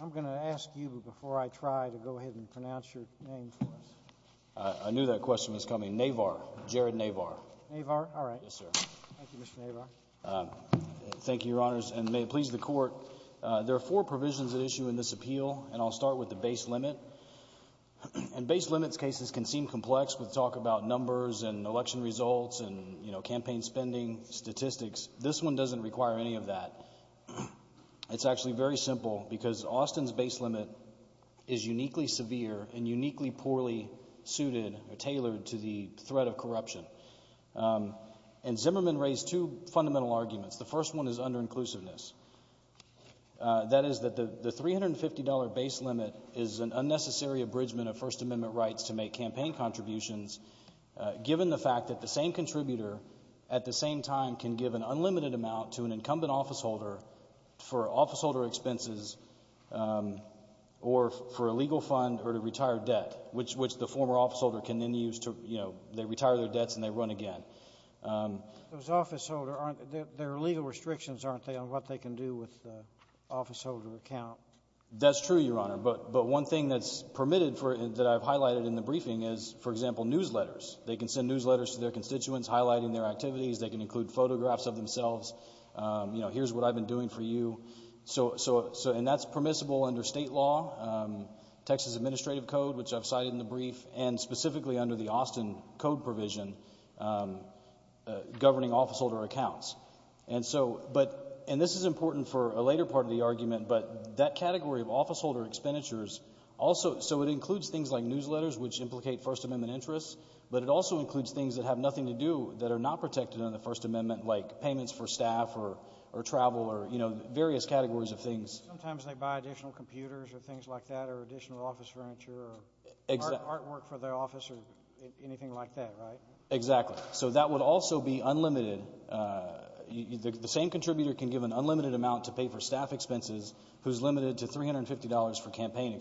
I'm going to ask you before I try to go ahead and pronounce your name for us. I knew that question was coming. Navar. Jared Navar. Navar? All right. Thank you, Mr. Navar. Thank you, Your Honors, and may it please the Court. There are four provisions at issue in this appeal, and I'll start with the base limit. And base limit cases can seem complex with talk about numbers and election results and campaign spending, statistics. This one doesn't require any of that. It's actually very simple, because Austin's base limit is uniquely severe and uniquely poorly suited or tailored to the threat of corruption. And Zimmerman raised two fundamental arguments. The first one is underinclusiveness. That is that the $350 base limit is an unnecessary abridgment of First Amendment rights to make campaign contributions, given the fact that the same contributor at the same time can give an unlimited amount to an incumbent officeholder for officeholder expenses or for a legal fund or to retire debt, which the former officeholder can then use to, you know, they retire their debts and they run again. Those officeholders, there are legal restrictions, aren't there, on what they can do with the officeholder account? That's true, Your Honor. But one thing that's permitted that I've highlighted in the briefing is, for example, newsletters. They can send newsletters to their constituents highlighting their activities. They can include photographs of themselves, you know, here's what I've been doing for you. And that's permissible under state law, Texas Administrative Code, which I've cited in the brief, and specifically under the Austin Code provision governing officeholder accounts. And this is important for a later part of the argument, but that category of officeholder expenditures also, so it includes things like newsletters, which implicate First Amendment interests, but it also includes things that have nothing to do, that are not protected under the First Amendment, like payments for staff or travel or, you know, various categories of things. Sometimes they buy additional computers or things like that or additional office furniture or artwork for the office or anything like that, right? Exactly. So that would also be unlimited. The same contributor can give an unlimited amount to pay for staff expenses, who's limited to $350 for campaign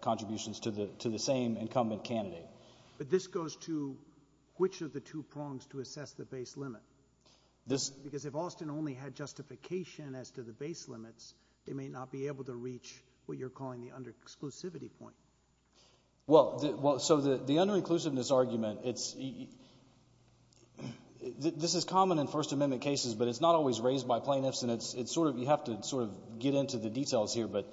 contributions to the same incumbent candidate. But this goes to which of the two prongs to assess the base limit? Because if Austin only had justification as to the base limits, they may not be able to reach what you're calling the under-exclusivity point. Well, so the under-inclusiveness argument, it's – this is common in First Amendment cases, but it's not always raised by plaintiffs, and it's sort of – you have to sort of get into the details here. But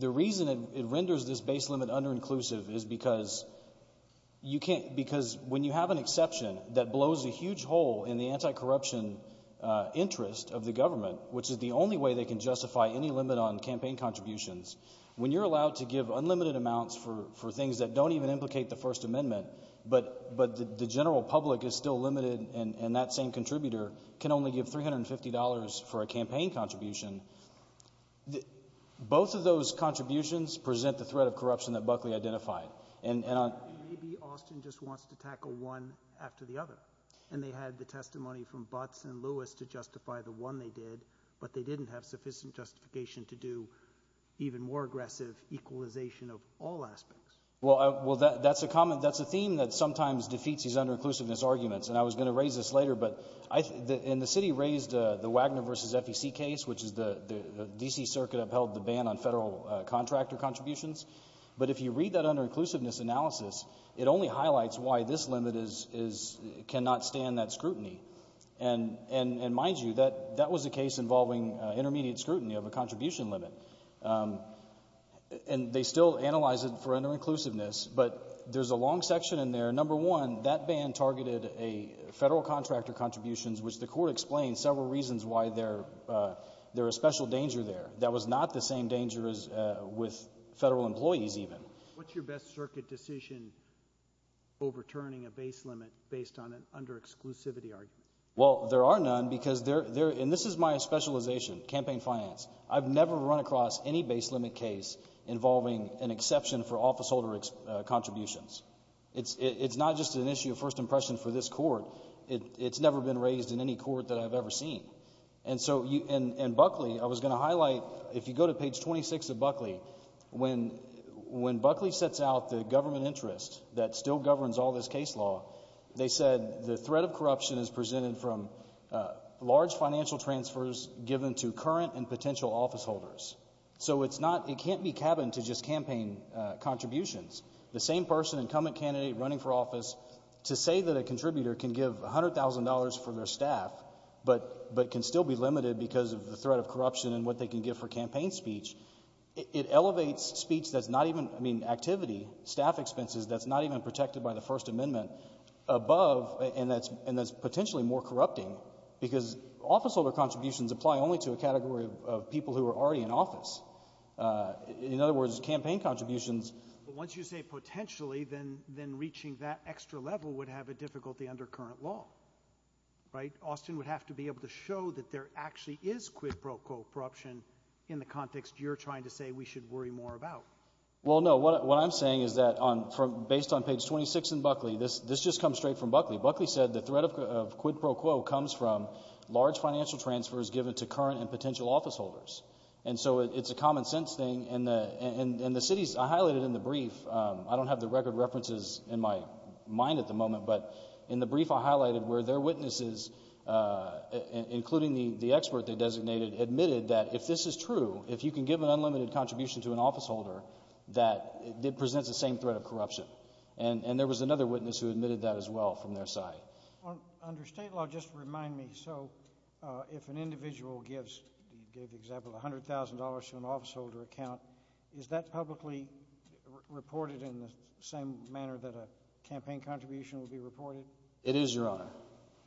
the reason it renders this base limit under-inclusive is because you can't – because when you have an exception that blows a huge hole in the anti-corruption interest of the government, which is the only way they can justify any limit on campaign contributions, when you're allowed to give unlimited amounts for things that don't even implicate the First Amendment, but the general public is still limited and that same contributor can only give $350 for a campaign contribution, both of those contributions present the threat of corruption that Buckley identified. Maybe Austin just wants to tackle one after the other, and they had the testimony from Butts and Lewis to justify the one they did, but they didn't have sufficient justification to do even more aggressive equalization of all aspects. Well, that's a theme that sometimes defeats these under-inclusiveness arguments, and I was going to raise this later, but – and the city raised the Wagner v. FEC case, which is the – the D.C. Circuit upheld the ban on federal contractor contributions. But if you read that under-inclusiveness analysis, it only highlights why this limit is – cannot stand that scrutiny. And mind you, that was a case involving intermediate scrutiny of a contribution limit, and they still analyze it for under-inclusiveness, but there's a long section in there. Number one, that ban targeted federal contractor contributions, which the court explained several reasons why there – there was special danger there. That was not the same danger as with federal employees even. What's your best circuit decision overturning a base limit based on an under-exclusivity argument? Well, there are none because there – and this is my specialization, campaign finance. I've never run across any base limit case involving an exception for officeholder contributions. It's not just an issue of first impression for this court. It's never been raised in any court that I've ever seen. And so – and Buckley, I was going to highlight, if you go to page 26 of Buckley, when – when Buckley sets out the government interest that still governs all this case law, they said the threat of corruption is presented from large financial transfers given to current and potential officeholders. So it's not – it can't be cabined to just campaign contributions. The same person, incumbent candidate, running for office, to say that a contributor can give $100,000 for their staff, but can still be limited because of the threat of corruption and what they can give for campaign speech, it elevates speech that's not even – I mean, activity, staff expenses, that's not even protected by the First Amendment above – and that's potentially more corrupting because officeholder contributions apply only to a category of people who are already in office. In other words, campaign contributions – But once you say potentially, then reaching that extra level would have a difficulty under current law, right? Austin would have to be able to show that there actually is quid pro quo corruption in the context you're trying to say we should worry more about. Well, no. What I'm saying is that based on page 26 in Buckley, this just comes straight from Buckley. Buckley said the threat of quid pro quo comes from large financial transfers given to current and potential officeholders. And so it's a common-sense thing, and the cities – I highlighted in the brief – I don't have the record references in my mind at the moment, but in the brief I highlighted where their witnesses, including the expert they designated, admitted that if this is true, if you can give an unlimited contribution to an officeholder, that it presents the same threat of corruption. And there was another witness who admitted that as well from their side. Under state law, just remind me, so if an individual gives – you gave the example of $100,000 to an officeholder account, is that publicly reported in the same manner that a campaign contribution would be reported? It is, Your Honor.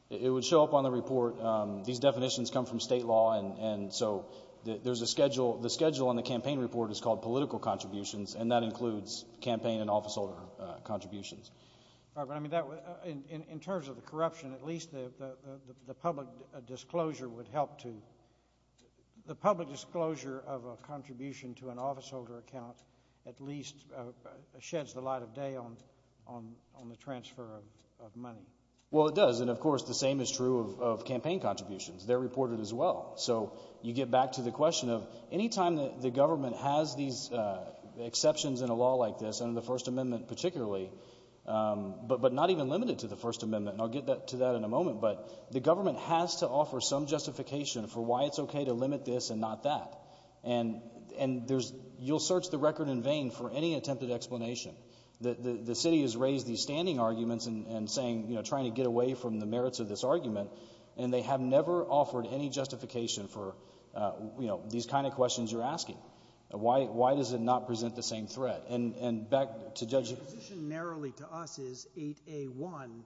It would show up on the report. These definitions come from state law, and so there's a schedule – the schedule on the campaign report is called political contributions, and that includes campaign and officeholder contributions. All right, but I mean, in terms of the corruption, at least the public disclosure would help to – at least sheds the light of day on the transfer of money. Well, it does, and of course the same is true of campaign contributions. They're reported as well. So you get back to the question of any time the government has these exceptions in a law like this, under the First Amendment particularly, but not even limited to the First Amendment, and I'll get to that in a moment, but the government has to offer some justification for why it's okay to limit this and not that. And there's – you'll search the record in vain for any attempted explanation. The city has raised these standing arguments and saying – trying to get away from the merits of this argument, and they have never offered any justification for these kind of questions you're asking. Why does it not present the same threat? And back to Judge – The position narrowly to us is 8A1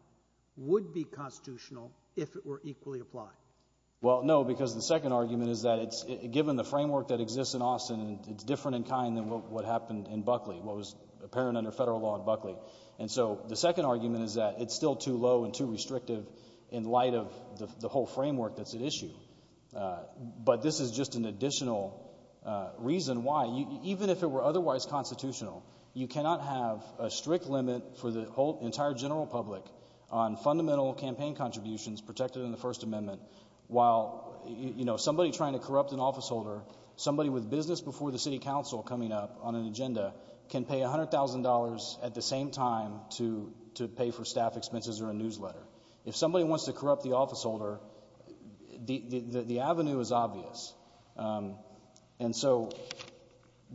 would be constitutional if it were equally applied. Well, no, because the second argument is that it's – given the framework that exists in Austin, it's different in kind than what happened in Buckley, what was apparent under federal law in Buckley. And so the second argument is that it's still too low and too restrictive in light of the whole framework that's at issue. But this is just an additional reason why, even if it were otherwise constitutional, you cannot have a strict limit for the entire general public on fundamental campaign contributions protected in the First Amendment while somebody trying to corrupt an officeholder, somebody with business before the city council coming up on an agenda, can pay $100,000 at the same time to pay for staff expenses or a newsletter. If somebody wants to corrupt the officeholder, the avenue is obvious. And so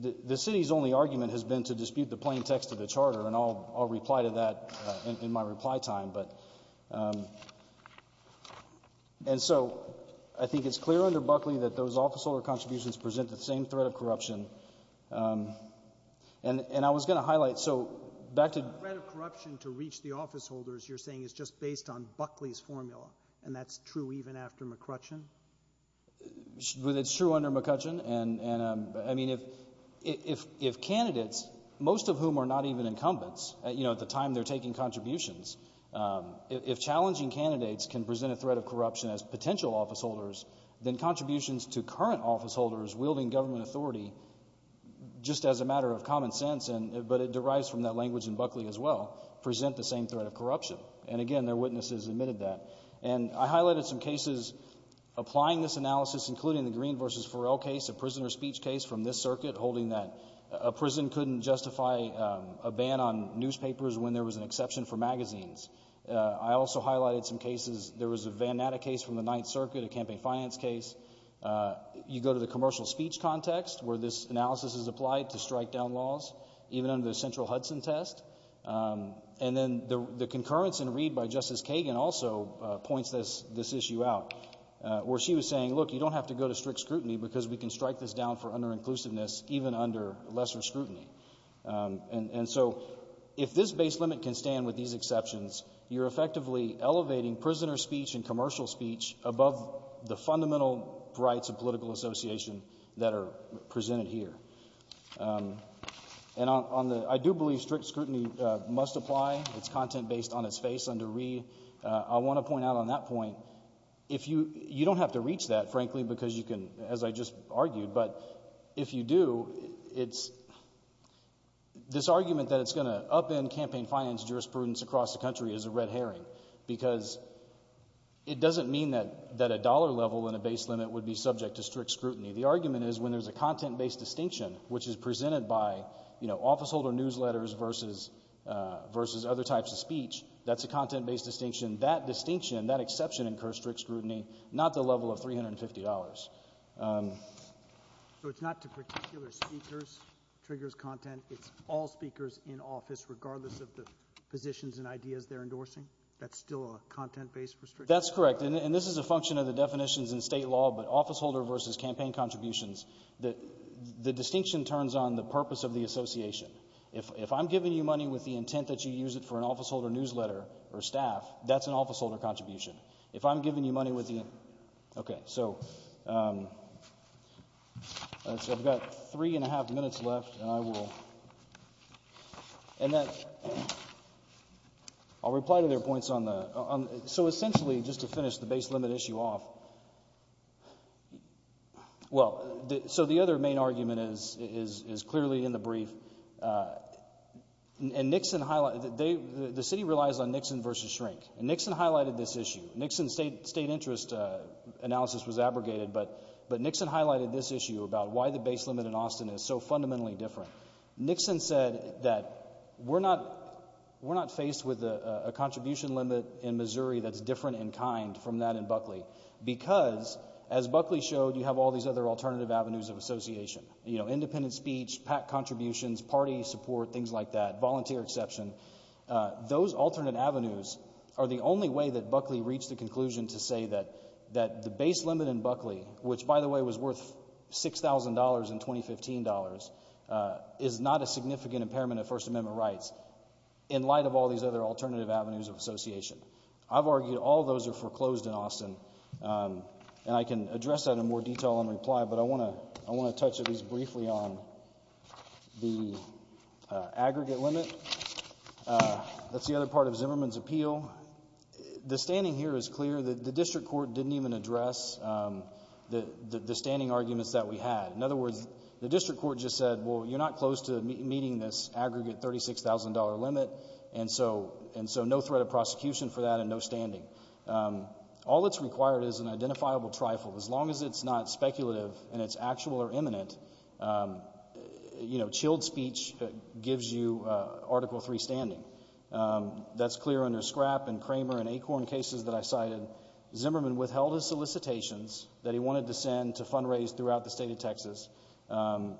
the city's only argument has been to dispute the plain text of the charter, and I'll reply to that in my reply time. And so I think it's clear under Buckley that those officeholder contributions present the same threat of corruption. And I was going to highlight, so back to — The threat of corruption to reach the officeholders, you're saying, is just based on Buckley's formula, and that's true even after McCrutchen? It's true under McCrutchen. I mean, if candidates, most of whom are not even incumbents, at the time they're taking contributions, if challenging candidates can present a threat of corruption as potential officeholders, then contributions to current officeholders wielding government authority, just as a matter of common sense, but it derives from that language in Buckley as well, present the same threat of corruption. And again, their witnesses admitted that. And I highlighted some cases applying this analysis, including the Green v. Farrell case, a prisoner's speech case from this circuit, holding that a prison couldn't justify a ban on newspapers when there was an exception for magazines. I also highlighted some cases. There was a Van Natta case from the Ninth Circuit, a campaign finance case. You go to the commercial speech context where this analysis is applied to strike down laws, even under the central Hudson test. And then the concurrence in Reed by Justice Kagan also points this issue out, where she was saying, look, you don't have to go to strict scrutiny because we can strike this down for under-inclusiveness even under lesser scrutiny. And so if this base limit can stand with these exceptions, you're effectively elevating prisoner speech and commercial speech above the fundamental rights of political association that are presented here. And I do believe strict scrutiny must apply. It's content based on its face under Reed. I want to point out on that point, you don't have to reach that, frankly, because you can, as I just argued, but if you do, this argument that it's going to upend campaign finance jurisprudence across the country is a red herring because it doesn't mean that a dollar level in a base limit would be subject to strict scrutiny. The argument is when there's a content based distinction, which is presented by officeholder newsletters versus other types of speech, that's a content based distinction, that distinction, that exception incurs strict scrutiny, not the level of $350. So it's not to particular speakers, triggers content, it's all speakers in office regardless of the positions and ideas they're endorsing? That's still a content based restriction? That's correct. And this is a function of the definitions in state law, but officeholder versus campaign contributions, the distinction turns on the purpose of the association. If I'm giving you money with the intent that you use it for an officeholder newsletter or staff, that's an officeholder contribution. If I'm giving you money with the intent. Okay. So I've got three and a half minutes left and I will, and I'll reply to their points on the, so essentially just to finish the base limit issue off, well, so the other main argument is clearly in the brief, and Nixon, the city relies on Nixon versus shrink, and Nixon highlighted this issue. Nixon's state interest analysis was abrogated, but Nixon highlighted this issue about why the base limit in Austin is so fundamentally different. Nixon said that we're not faced with a contribution limit in Missouri that's different in kind from that in Buckley, because as Buckley showed, you have all these other alternative avenues of association, independent speech, PAC contributions, party support, things like that, volunteer exception. Those alternate avenues are the only way that Buckley reached the conclusion to say that the base limit in Buckley, which, by the way, was worth $6,000 in 2015 dollars, is not a significant impairment of First Amendment rights in light of all these other alternative avenues of association. I've argued all those are foreclosed in Austin, and I can address that in more detail in reply, but I want to touch at least briefly on the aggregate limit. That's the other part of Zimmerman's appeal. The standing here is clear that the district court didn't even address the standing arguments that we had. In other words, the district court just said, well, you're not close to meeting this aggregate $36,000 limit, and so no threat of prosecution for that and no standing. All that's required is an identifiable trifle. As long as it's not speculative and it's actual or imminent, chilled speech gives you Article III standing. That's clear under Scrapp and Cramer and Acorn cases that I cited. Zimmerman withheld his solicitations that he wanted to send to fundraise throughout the state of Texas.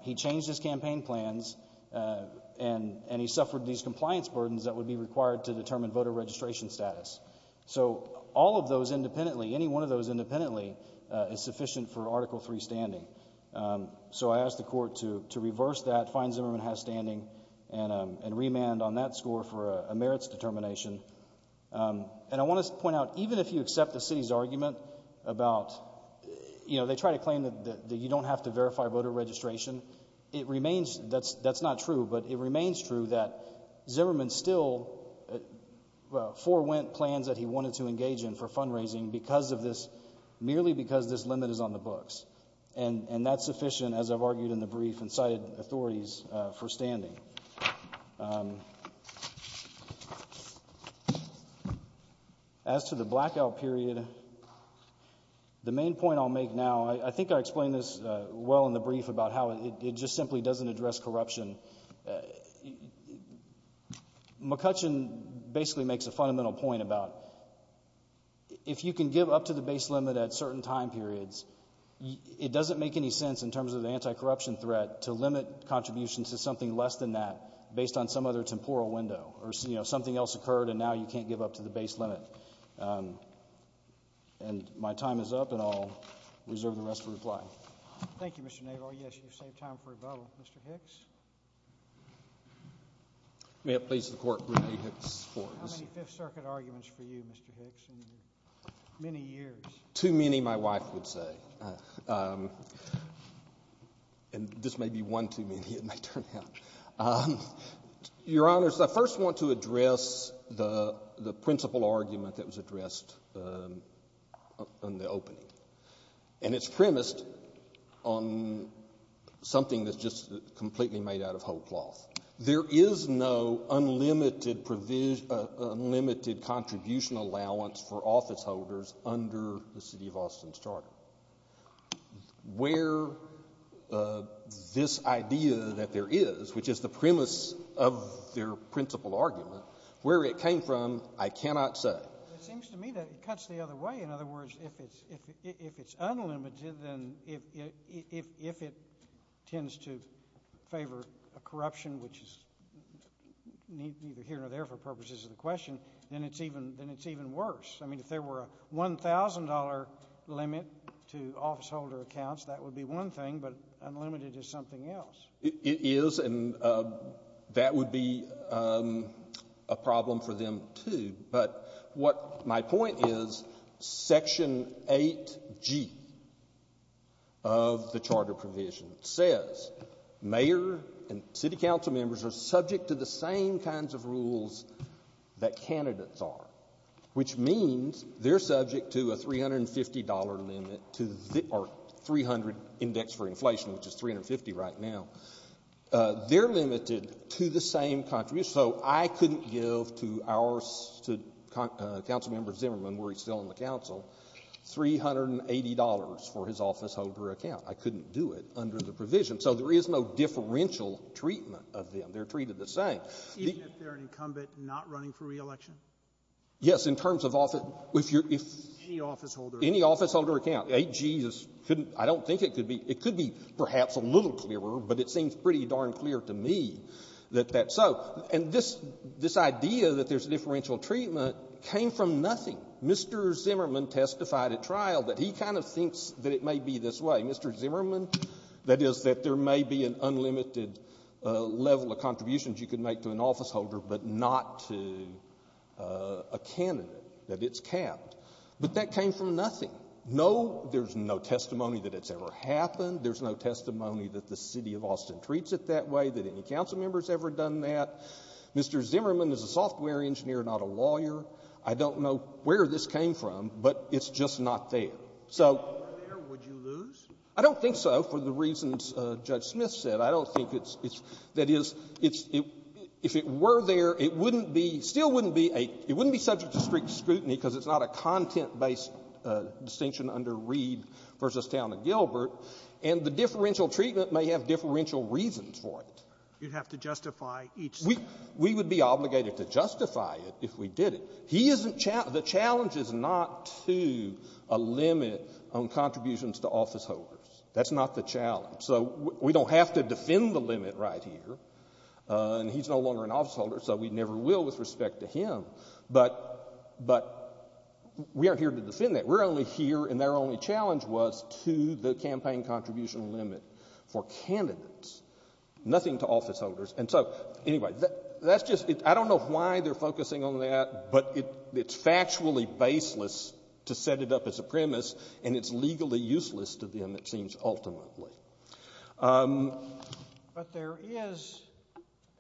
He changed his campaign plans, and he suffered these compliance burdens that would be required to determine voter registration status. So all of those independently, any one of those independently, is sufficient for Article III standing. So I asked the court to reverse that, find Zimmerman has standing, and remand on that score for a merits determination. And I want to point out, even if you accept the city's argument about, you know, they try to claim that you don't have to verify voter registration, that's not true, but it remains true that Zimmerman still forewent plans that he wanted to engage in for fundraising merely because this limit is on the books. And that's sufficient, as I've argued in the brief and cited authorities, for standing. As to the blackout period, the main point I'll make now, I think I explained this well in the brief about how it just simply doesn't address corruption. McCutcheon basically makes a fundamental point about if you can give up to the base limit at certain time periods, it doesn't make any sense in terms of the anti-corruption threat to limit contributions to something less than that or, you know, something else occurred and now you can't give up to the base limit. And my time is up, and I'll reserve the rest for reply. Thank you, Mr. Naval. Yes, you saved time for rebuttal. Mr. Hicks? May it please the Court, Brene Hicks. How many Fifth Circuit arguments for you, Mr. Hicks, in many years? Too many, my wife would say. And this may be one too many, it may turn out. Your Honors, I first want to address the principal argument that was addressed in the opening. And it's premised on something that's just completely made out of whole cloth. There is no unlimited contribution allowance for officeholders under the city of Austin's charter. Where this idea that there is, which is the premise of their principal argument, where it came from, I cannot say. It seems to me that it cuts the other way. In other words, if it's unlimited, then if it tends to favor a corruption, which is neither here nor there for purposes of the question, then it's even worse. I mean, if there were a $1,000 limit to officeholder accounts, that would be one thing, but unlimited is something else. It is, and that would be a problem for them, too. But what my point is, Section 8G of the charter provision says mayor and city council members are subject to the same kinds of rules that candidates are, which means they're subject to a $350 limit or 300 index for inflation, which is 350 right now. They're limited to the same contribution. So I couldn't give to our council member Zimmerman, where he's still on the council, $380 for his officeholder account. I couldn't do it under the provision. So there is no differential treatment of them. They're treated the same. Even if they're an incumbent not running for re-election? Yes, in terms of office. Any officeholder account. Any officeholder account. 8G couldn't be. I don't think it could be. It could be perhaps a little clearer, but it seems pretty darn clear to me that that's so. And this idea that there's differential treatment came from nothing. Mr. Zimmerman testified at trial that he kind of thinks that it may be this way. Mr. Zimmerman, that is, that there may be an unlimited level of contributions you can make to an officeholder but not to a candidate, that it's capped. But that came from nothing. No, there's no testimony that it's ever happened. There's no testimony that the city of Austin treats it that way, that any council member's ever done that. Mr. Zimmerman is a software engineer, not a lawyer. I don't know where this came from, but it's just not there. If it were there, would you lose? I don't think so, for the reasons Judge Smith said. I don't think it's — that is, if it were there, it wouldn't be — still wouldn't be a — it wouldn't be subject to strict scrutiny because it's not a content-based distinction under Reed v. Towne and Gilbert, and the differential treatment may have differential reasons for it. You'd have to justify each statement. We would be obligated to justify it if we did it. He isn't — the challenge is not to a limit on contributions to officeholders. That's not the challenge. So we don't have to defend the limit right here. And he's no longer an officeholder, so we never will with respect to him. But we aren't here to defend that. We're only here — and their only challenge was to the campaign contribution limit for candidates. Nothing to officeholders. And so, anyway, that's just — I don't know why they're focusing on that, but it's factually baseless to set it up as a premise, and it's legally useless to them, it seems, ultimately. But there is,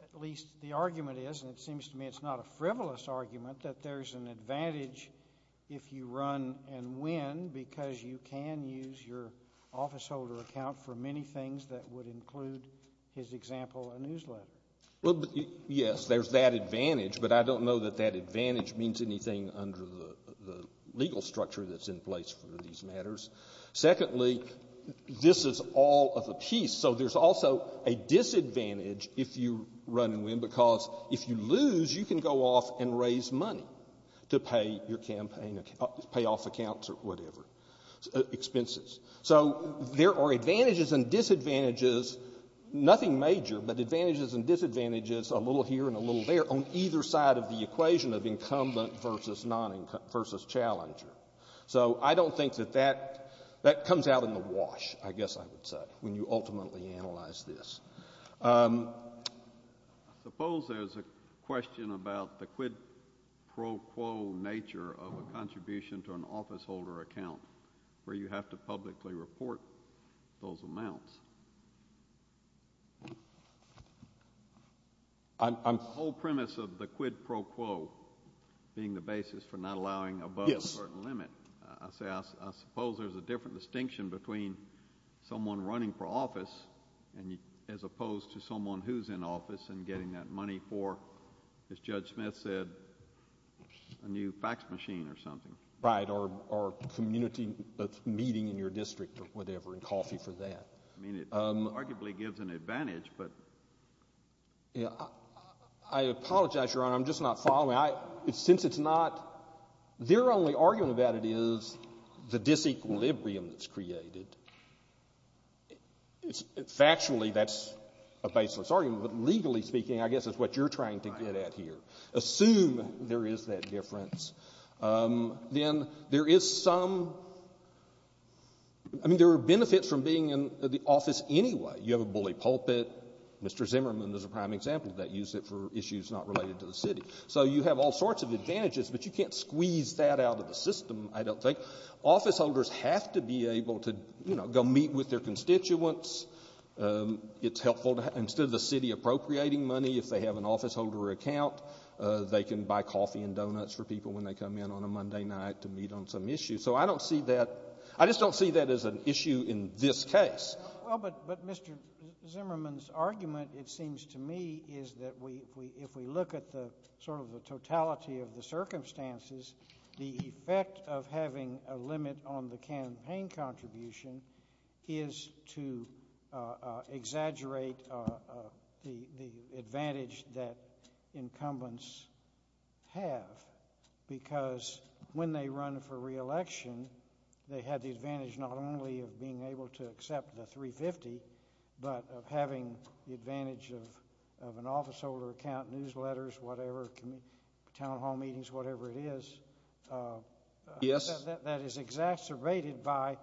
at least the argument is, and it seems to me it's not a frivolous argument, that there's an advantage if you run and win because you can use your officeholder account for many things that would include, his example, a newsletter. Well, yes, there's that advantage, but I don't know that that advantage means anything under the legal structure that's in place for these matters. Secondly, this is all of a piece. So there's also a disadvantage if you run and win because if you lose, you can go off and raise money to pay your campaign — payoff accounts or whatever, expenses. So there are advantages and disadvantages, nothing major, but advantages and disadvantages a little here and a little there on either side of the equation of incumbent versus non-incumbent versus challenger. So I don't think that that — that comes out in the wash, I guess I would say, when you ultimately analyze this. I suppose there's a question about the quid pro quo nature of a contribution to an officeholder account where you have to publicly report those amounts. The whole premise of the quid pro quo being the basis for not allowing above a certain limit, I suppose there's a different distinction between someone running for office as opposed to someone who's in office and getting that money for, as Judge Smith said, a new fax machine or something. Right. Or community meeting in your district or whatever and coffee for that. I mean, it arguably gives an advantage, but — I apologize, Your Honor. I'm just not following. Since it's not — their only argument about it is the disequilibrium that's created. Factually, that's a baseless argument, but legally speaking, I guess it's what you're trying to get at here. Assume there is that difference. Then there is some — I mean, there are benefits from being in the office anyway. You have a bully pulpit. Mr. Zimmerman is a prime example that used it for issues not related to the city. So you have all sorts of advantages, but you can't squeeze that out of the system, I don't think. Officeholders have to be able to, you know, go meet with their constituents. It's helpful. Instead of the city appropriating money, if they have an officeholder account, they can buy coffee and donuts for people when they come in on a Monday night to meet on some issue. So I don't see that — I just don't see that as an issue in this case. Well, but Mr. Zimmerman's argument, it seems to me, is that if we look at the sort of the totality of the circumstances, the effect of having a limit on the campaign contribution is to exaggerate the advantage that incumbents have. Because when they run for re-election, they have the advantage not only of being able to accept the 350, but of having the advantage of an officeholder account, newsletters, whatever, town hall meetings, whatever it is. Yes. That is exacerbated by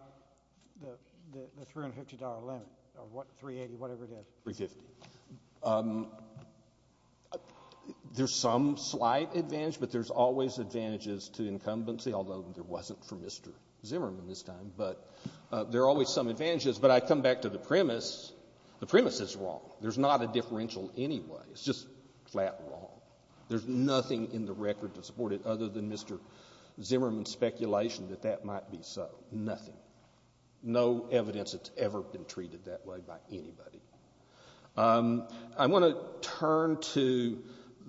the $350 limit of what, 380, whatever it is. 350. There's some slight advantage, but there's always advantages to incumbency, although there wasn't for Mr. Zimmerman this time. But there are always some advantages. But I come back to the premise. The premise is wrong. There's not a differential anyway. It's just flat wrong. There's nothing in the record to support it other than Mr. Zimmerman's speculation that that might be so. Nothing. No evidence that's ever been treated that way by anybody. I want to turn to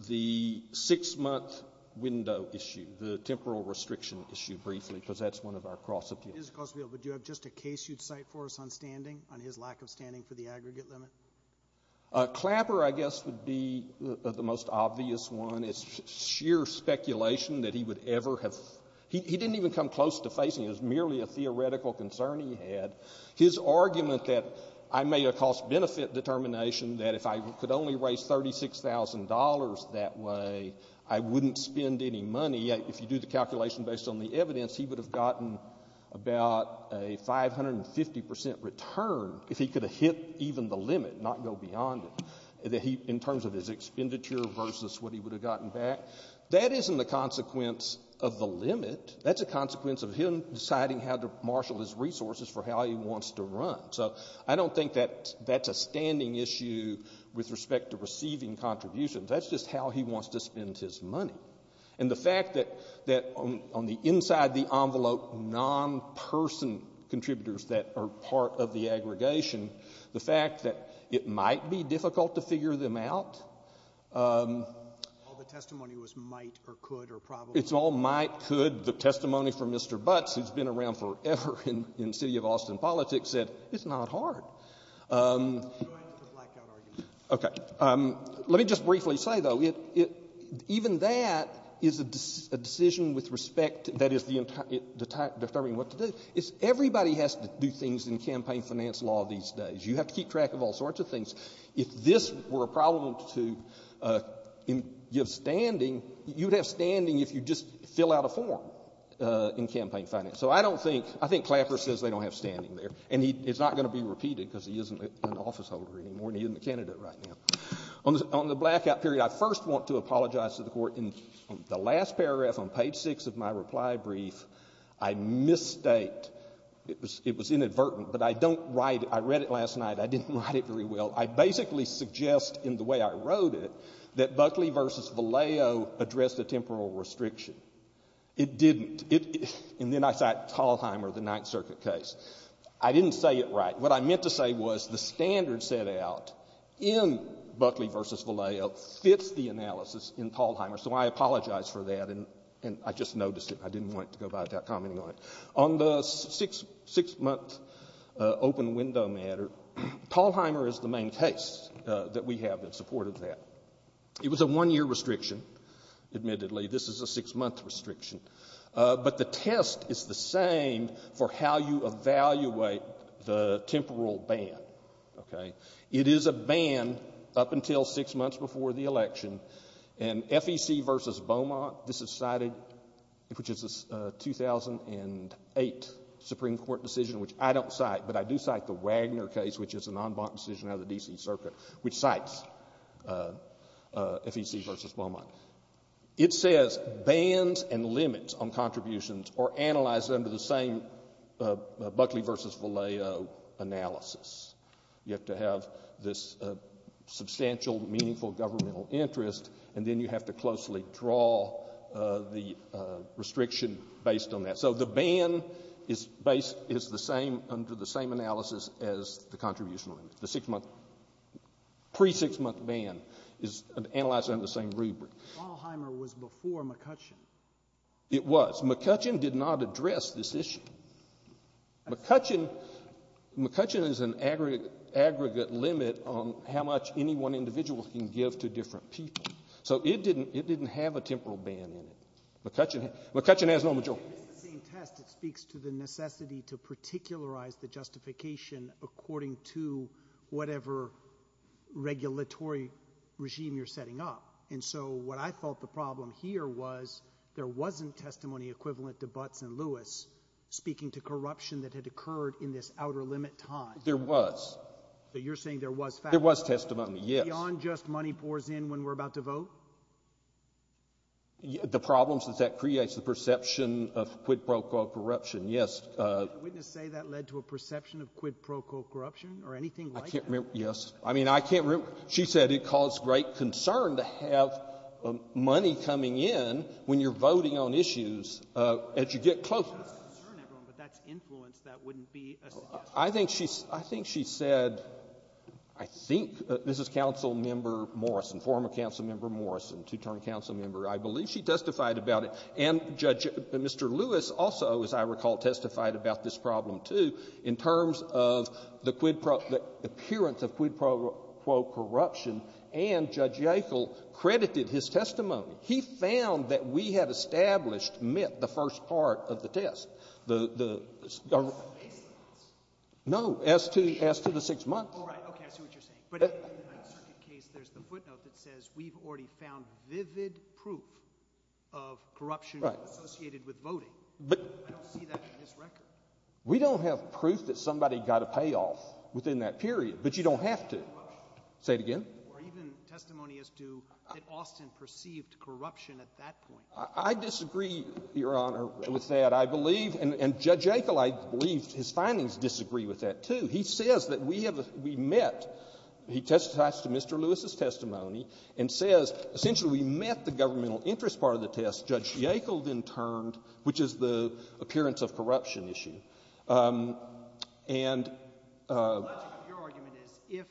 the six-month window issue, the temporal restriction issue, briefly, because that's one of our cross-appeals. Mr. Crossfield, would you have just a case you'd cite for us on standing, on his lack of standing for the aggregate limit? Clapper, I guess, would be the most obvious one. It's sheer speculation that he would ever have. He didn't even come close to facing it. It was merely a theoretical concern he had. His argument that I made a cost-benefit determination that if I could only raise $36,000 that way, I wouldn't spend any money, if you do the calculation based on the evidence, he would have gotten about a 550% return if he could have hit even the limit, not go beyond it, in terms of his expenditure versus what he would have gotten back. That isn't the consequence of the limit. That's a consequence of him deciding how to marshal his resources for how he wants to run. So I don't think that that's a standing issue with respect to receiving contributions. That's just how he wants to spend his money. And the fact that on the inside the envelope, non-person contributors that are part of the aggregation, the fact that it might be difficult to figure them out. All the testimony was might or could or probably not. It's all might, could. The testimony from Mr. Butts, who's been around forever in city of Austin politics, said it's not hard. Go ahead with the blackout argument. Okay. Let me just briefly say, though, even that is a decision with respect that is the entire time, determining what to do. Everybody has to do things in campaign finance law these days. You have to keep track of all sorts of things. If this were a problem to give standing, you would have standing if you just fill out a form in campaign finance. So I don't think, I think Clapper says they don't have standing there. And it's not going to be repeated because he isn't an officeholder anymore and he isn't a candidate right now. On the blackout period, I first want to apologize to the Court. In the last paragraph on page 6 of my reply brief, I misstate. It was inadvertent. But I don't write it. I read it last night. I didn't write it very well. I basically suggest in the way I wrote it that Buckley v. Vallejo addressed a temporal restriction. It didn't. And then I cite Talheimer, the Ninth Circuit case. I didn't say it right. What I meant to say was the standard set out in Buckley v. Vallejo fits the analysis in Talheimer, so I apologize for that. And I just noticed it. I didn't want it to go by without commenting on it. On the six-month open window matter, Talheimer is the main case that we have that supported that. It was a one-year restriction, admittedly. This is a six-month restriction. But the test is the same for how you evaluate the temporal ban. Okay? It is a ban up until six months before the election. And FEC v. Beaumont, this is cited, which is a 2008 Supreme Court decision, which I don't cite, but I do cite the Wagner case, which is an en banc decision out of the D.C. Circuit, which cites FEC v. Beaumont. It says bans and limits on contributions are analyzed under the same Buckley v. Vallejo analysis. You have to have this substantial, meaningful governmental interest, and then you have to closely draw the restriction based on that. So the ban is the same under the same analysis as the contribution limit. The pre-six-month ban is analyzed under the same rubric. Talheimer was before McCutcheon. It was. McCutcheon did not address this issue. McCutcheon is an aggregate limit on how much any one individual can give to different people. So it didn't have a temporal ban in it. McCutcheon has no majority. It's the same test. It speaks to the necessity to particularize the justification according to whatever regulatory regime you're setting up. And so what I thought the problem here was there wasn't testimony equivalent to Butts and Lewis speaking to corruption that had occurred in this outer limit time. There was. So you're saying there was facts. There was testimony, yes. Beyond just money pours in when we're about to vote? The problem is that that creates the perception of quid pro quo corruption. Yes. Can a witness say that led to a perception of quid pro quo corruption or anything like that? I can't remember. Yes. I mean, I can't remember. She said it caused great concern to have money coming in when you're voting on issues as you get closer. It doesn't concern everyone, but that's influence that wouldn't be a suggestion. I think she said, I think this is Councilmember Morrison, former Councilmember Morrison, two-term Councilmember. I believe she testified about it. And Judge Mr. Lewis also, as I recall, testified about this problem, too, in terms of the appearance of quid pro quo corruption. And Judge Yackel credited his testimony. He found that we had established, met the first part of the test. No, as to the six months. We don't have proof that somebody got a payoff within that period. But you don't have to. Say it again. I disagree, Your Honor, with that. I believe — and Judge Yackel, I believe his findings disagree with that, too. He says that we have — we met — he testifies to Mr. Lewis's testimony and says, essentially, we met the governmental interest part of the test. Judge Yackel then turned, which is the appearance of corruption issue. And — The logic of your argument is if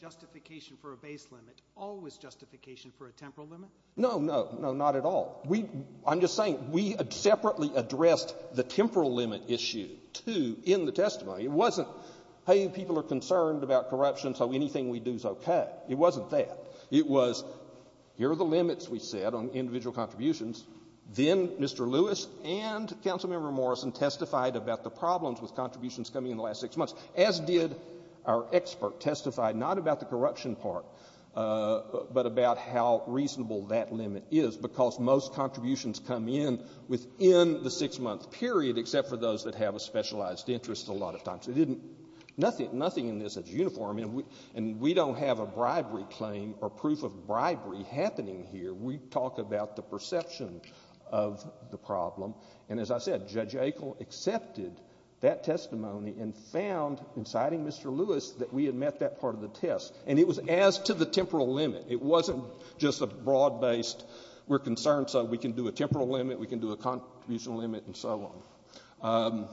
justification for a base limit, always justification for a temporal limit? No, no. No, not at all. We — I'm just saying we separately addressed the temporal limit issue, too, in the testimony. It wasn't, hey, people are concerned about corruption, so anything we do is okay. It wasn't that. It was, here are the limits, we said, on individual contributions. Then Mr. Lewis and Councilmember Morrison testified about the problems with contributions but about how reasonable that limit is, because most contributions come in within the six-month period, except for those that have a specialized interest a lot of times. It didn't — nothing in this is uniform. And we don't have a bribery claim or proof of bribery happening here. We talk about the perception of the problem. And as I said, Judge Yackel accepted that testimony and found, inciting Mr. Lewis, that we had met that part of the test. And it was as to the temporal limit. It wasn't just a broad-based, we're concerned so we can do a temporal limit, we can do a contribution limit, and so on.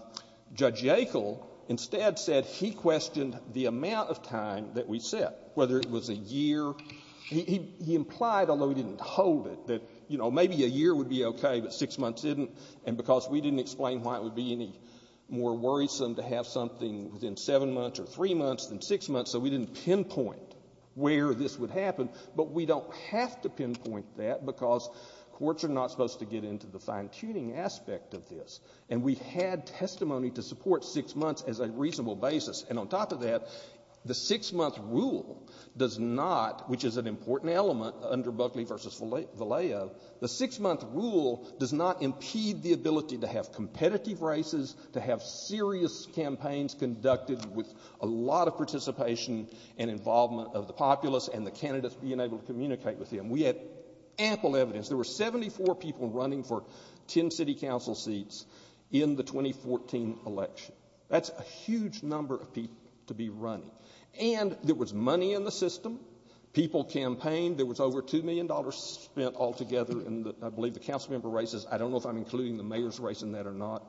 Judge Yackel instead said he questioned the amount of time that we set, whether it was a year. He implied, although he didn't hold it, that, you know, maybe a year would be okay, but six months didn't. And because we didn't explain why it would be any more worrisome to have something within seven months or three months than six months, so we didn't pinpoint where this would happen. But we don't have to pinpoint that because courts are not supposed to get into the fine-tuning aspect of this. And we had testimony to support six months as a reasonable basis. And on top of that, the six-month rule does not, which is an important element under Buckley v. Vallejo, the six-month rule does not impede the ability to have competitive races, to have serious campaigns conducted with a lot of participation and involvement of the populace and the candidates being able to communicate with them. We had ample evidence. There were 74 people running for ten city council seats in the 2014 election. That's a huge number of people to be running. And there was money in the system. People campaigned. There was over $2 million spent altogether in, I believe, the council member races. I don't know if I'm including the mayor's race in that or not.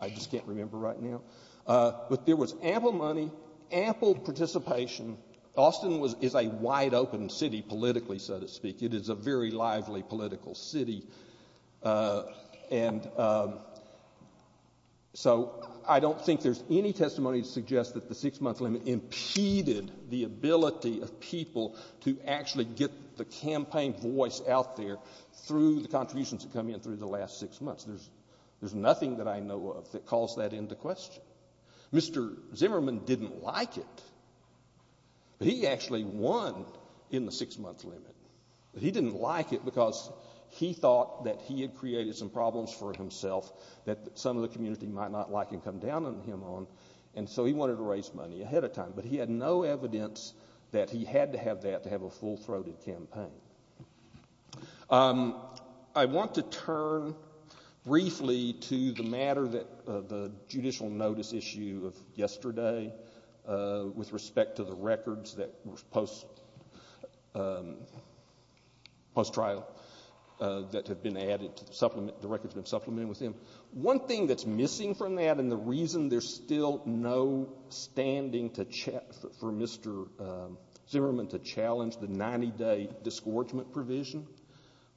I just can't remember right now. But there was ample money, ample participation. Austin is a wide-open city politically, so to speak. It is a very lively political city. And so I don't think there's any testimony to suggest that the six-month limit impeded the ability of people to actually get the campaign voice out there through the contributions that come in through the last six months. There's nothing that I know of that calls that into question. Mr. Zimmerman didn't like it. But he actually won in the six-month limit. But he didn't like it because he thought that he had created some problems for himself that some of the community might not like and come down on him on. And so he wanted to raise money ahead of time. But he had no evidence that he had to have that to have a full-throated campaign. I want to turn briefly to the matter that the judicial notice issue of yesterday with respect to the records that were post-trial that have been added to the supplement, the records that have been supplemented with him. One thing that's missing from that and the reason there's still no standing for Mr. Zimmerman to challenge the 90-day disgorgement provision,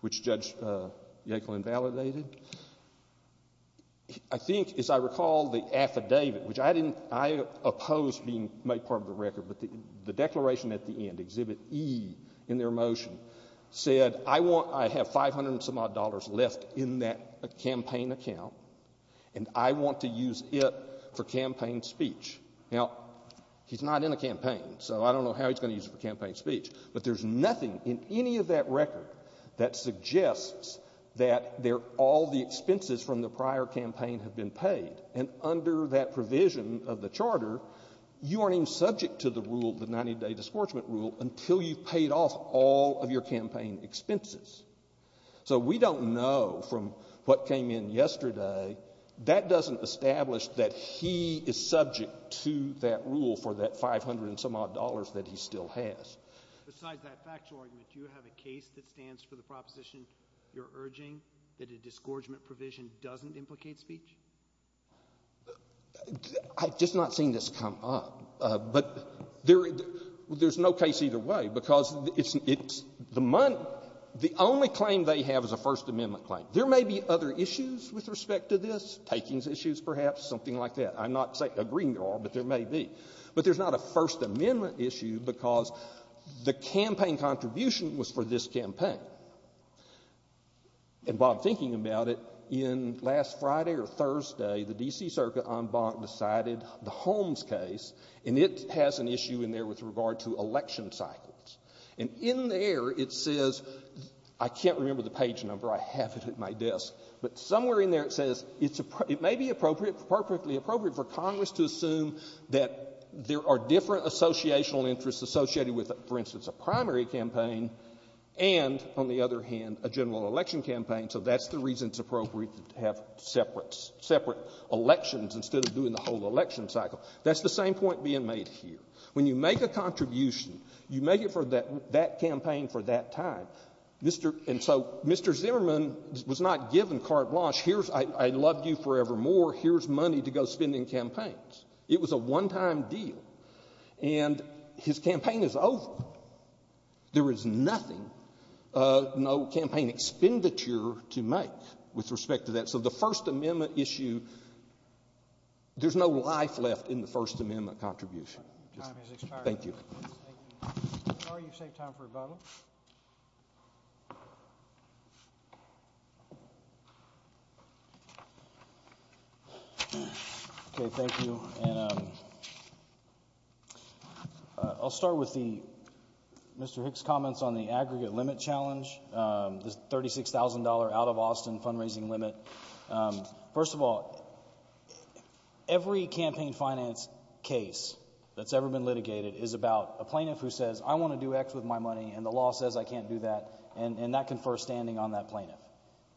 which Judge Yackel invalidated, I think, as I recall, the affidavit, which I opposed being made part of the record, but the declaration at the end, Exhibit E in their motion, said, I have 500 and some odd dollars left in that campaign account, and I want to use it for campaign speech. Now, he's not in a campaign, so I don't know how he's going to use it for campaign speech, but there's nothing in any of that record that suggests that all the expenses from the prior campaign have been paid. And under that provision of the Charter, you aren't even subject to the rule, the 90-day disgorgement rule, until you've paid off all of your campaign expenses. So we don't know from what came in yesterday, that doesn't establish that he is subject to that rule for that 500 and some odd dollars that he still has. Besides that factual argument, do you have a case that stands for the proposition you're urging, that a disgorgement provision doesn't implicate speech? I've just not seen this come up. But there's no case either way, because it's the only claim they have is a First Amendment claim. Now, there may be other issues with respect to this, takings issues perhaps, something like that. I'm not agreeing at all, but there may be. But there's not a First Amendment issue because the campaign contribution was for this campaign. And while I'm thinking about it, in last Friday or Thursday, the D.C. Circuit en banc decided the Holmes case, and it has an issue in there with regard to election cycles. And in there it says — I can't remember the page number. I have it at my desk. But somewhere in there it says it may be appropriate, perfectly appropriate, for Congress to assume that there are different associational interests associated with, for instance, a primary campaign and, on the other hand, a general election campaign, so that's the reason it's appropriate to have separate elections instead of doing the whole election cycle. That's the same point being made here. When you make a contribution, you make it for that campaign for that time. And so Mr. Zimmerman was not given carte blanche. Here's I loved you forevermore. Here's money to go spend in campaigns. It was a one-time deal. And his campaign is over. There is nothing, no campaign expenditure to make with respect to that. So the First Amendment issue, there's no life left in the First Amendment contribution. Time has expired. Thank you. Sorry you saved time for rebuttal. Okay, thank you. I'll start with Mr. Hicks' comments on the aggregate limit challenge, the $36,000 out-of-Austin fundraising limit. First of all, every campaign finance case that's ever been litigated is about a plaintiff who says, I want to do X with my money, and the law says I can't do that, and that confers standing on that plaintiff.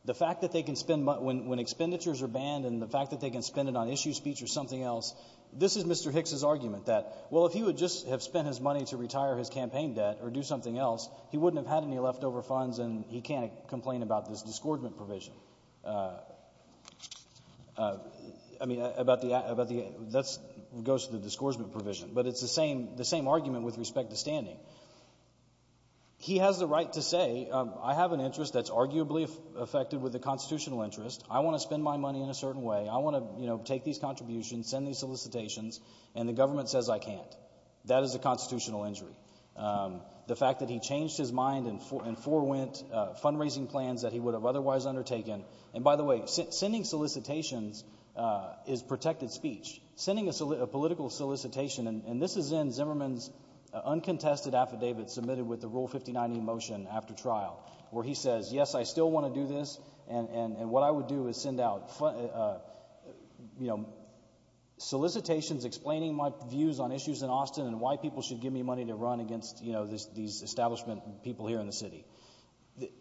The fact that they can spend money when expenditures are banned and the fact that they can spend it on issue speech or something else, this is Mr. Hicks' argument that, well, if he would just have spent his money to retire his campaign debt or do something else, he wouldn't have had any leftover funds and he can't complain about this disgorgement provision. I mean, that goes to the disgorgement provision. But it's the same argument with respect to standing. He has the right to say, I have an interest that's arguably affected with a constitutional interest, I want to spend my money in a certain way, I want to take these contributions, send these solicitations, and the government says I can't. That is a constitutional injury. The fact that he changed his mind and forewent fundraising plans that he would have otherwise undertaken, and by the way, sending solicitations is protected speech. Sending a political solicitation, and this is in Zimmerman's uncontested affidavit submitted with the Rule 59E motion after trial, where he says, yes, I still want to do this, and what I would do is send out solicitations explaining my views on issues in Austin and why people should give me money to run against these establishment people here in the city.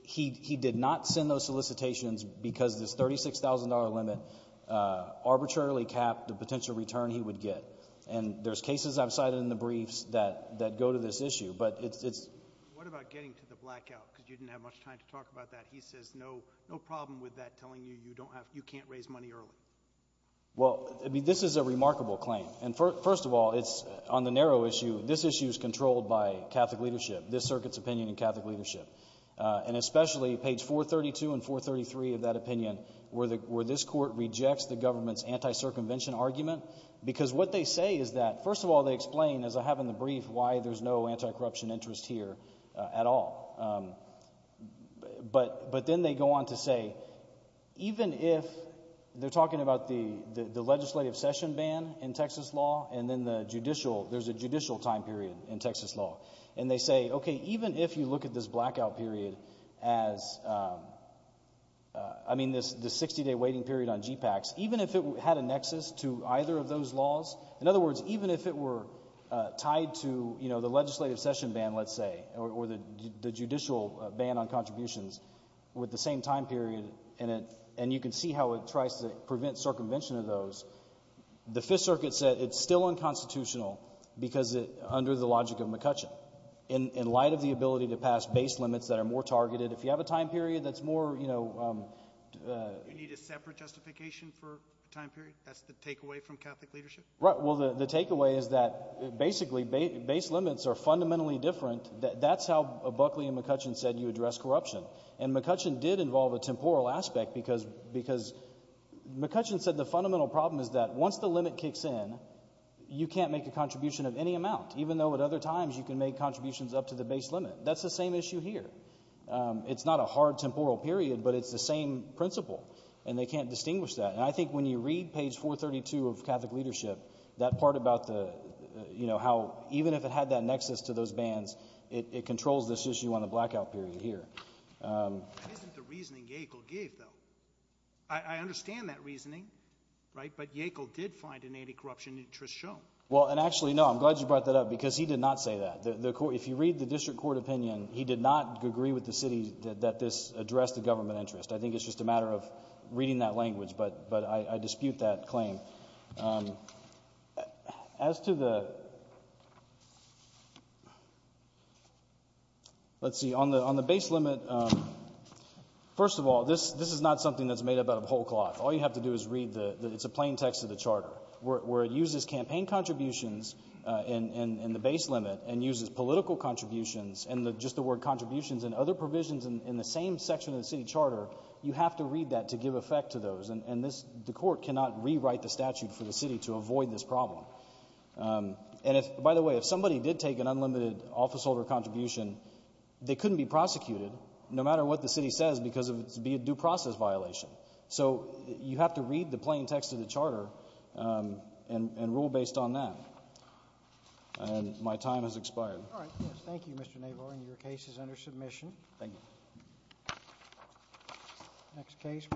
He did not send those solicitations because this $36,000 limit arbitrarily capped the potential return he would get. And there's cases I've cited in the briefs that go to this issue. What about getting to the blackout? Because you didn't have much time to talk about that. He says no problem with that, telling you you can't raise money early. Well, I mean, this is a remarkable claim. And first of all, it's on the narrow issue. This issue is controlled by Catholic leadership, this circuit's opinion in Catholic leadership, and especially page 432 and 433 of that opinion where this court rejects the government's anti-circumvention argument because what they say is that, first of all, they explain, as I have in the brief, why there's no anti-corruption interest here at all. But then they go on to say even if they're talking about the legislative session ban in Texas law and then the judicial, there's a judicial time period in Texas law, and they say, okay, even if you look at this blackout period as, I mean, this 60-day waiting period on GPACS, even if it had a nexus to either of those laws, in other words, even if it were tied to, you know, the legislative session ban, let's say, or the judicial ban on contributions with the same time period, and you can see how it tries to prevent circumvention of those, the Fifth Circuit said it's still unconstitutional because under the logic of McCutcheon. In light of the ability to pass base limits that are more targeted, if you have a time period that's more, you know... You need a separate justification for a time period? That's the takeaway from Catholic leadership? Right, well, the takeaway is that basically base limits are fundamentally different. That's how Buckley and McCutcheon said you address corruption. And McCutcheon did involve a temporal aspect because McCutcheon said the fundamental problem is that once the limit kicks in, you can't make a contribution of any amount, even though at other times you can make contributions up to the base limit. That's the same issue here. It's not a hard temporal period, but it's the same principle, and they can't distinguish that, and I think when you read page 432 of Catholic leadership, that part about the, you know, how even if it had that nexus to those bans, it controls this issue on the blackout period here. That isn't the reasoning Yackel gave, though. I understand that reasoning, right? But Yackel did find an anti-corruption interest shown. Well, and actually, no, I'm glad you brought that up because he did not say that. If you read the district court opinion, he did not agree with the city that this addressed the government interest. I think it's just a matter of reading that language, but I dispute that claim. As to the, let's see, on the base limit, first of all, this is not something that's made up out of whole cloth. All you have to do is read the, it's a plain text of the charter, where it uses campaign contributions in the base limit and uses political contributions and just the word contributions and other provisions in the same section of the city charter, you have to read that to give effect to those. And this, the court cannot rewrite the statute for the city to avoid this problem. And if, by the way, if somebody did take an unlimited officeholder contribution, they couldn't be prosecuted, no matter what the city says, because it would be a due process violation. So you have to read the plain text of the charter and rule based on that. And my time has expired. All right. Thank you, Mr. Navarro. And your case is under submission. Thank you. Next case, please.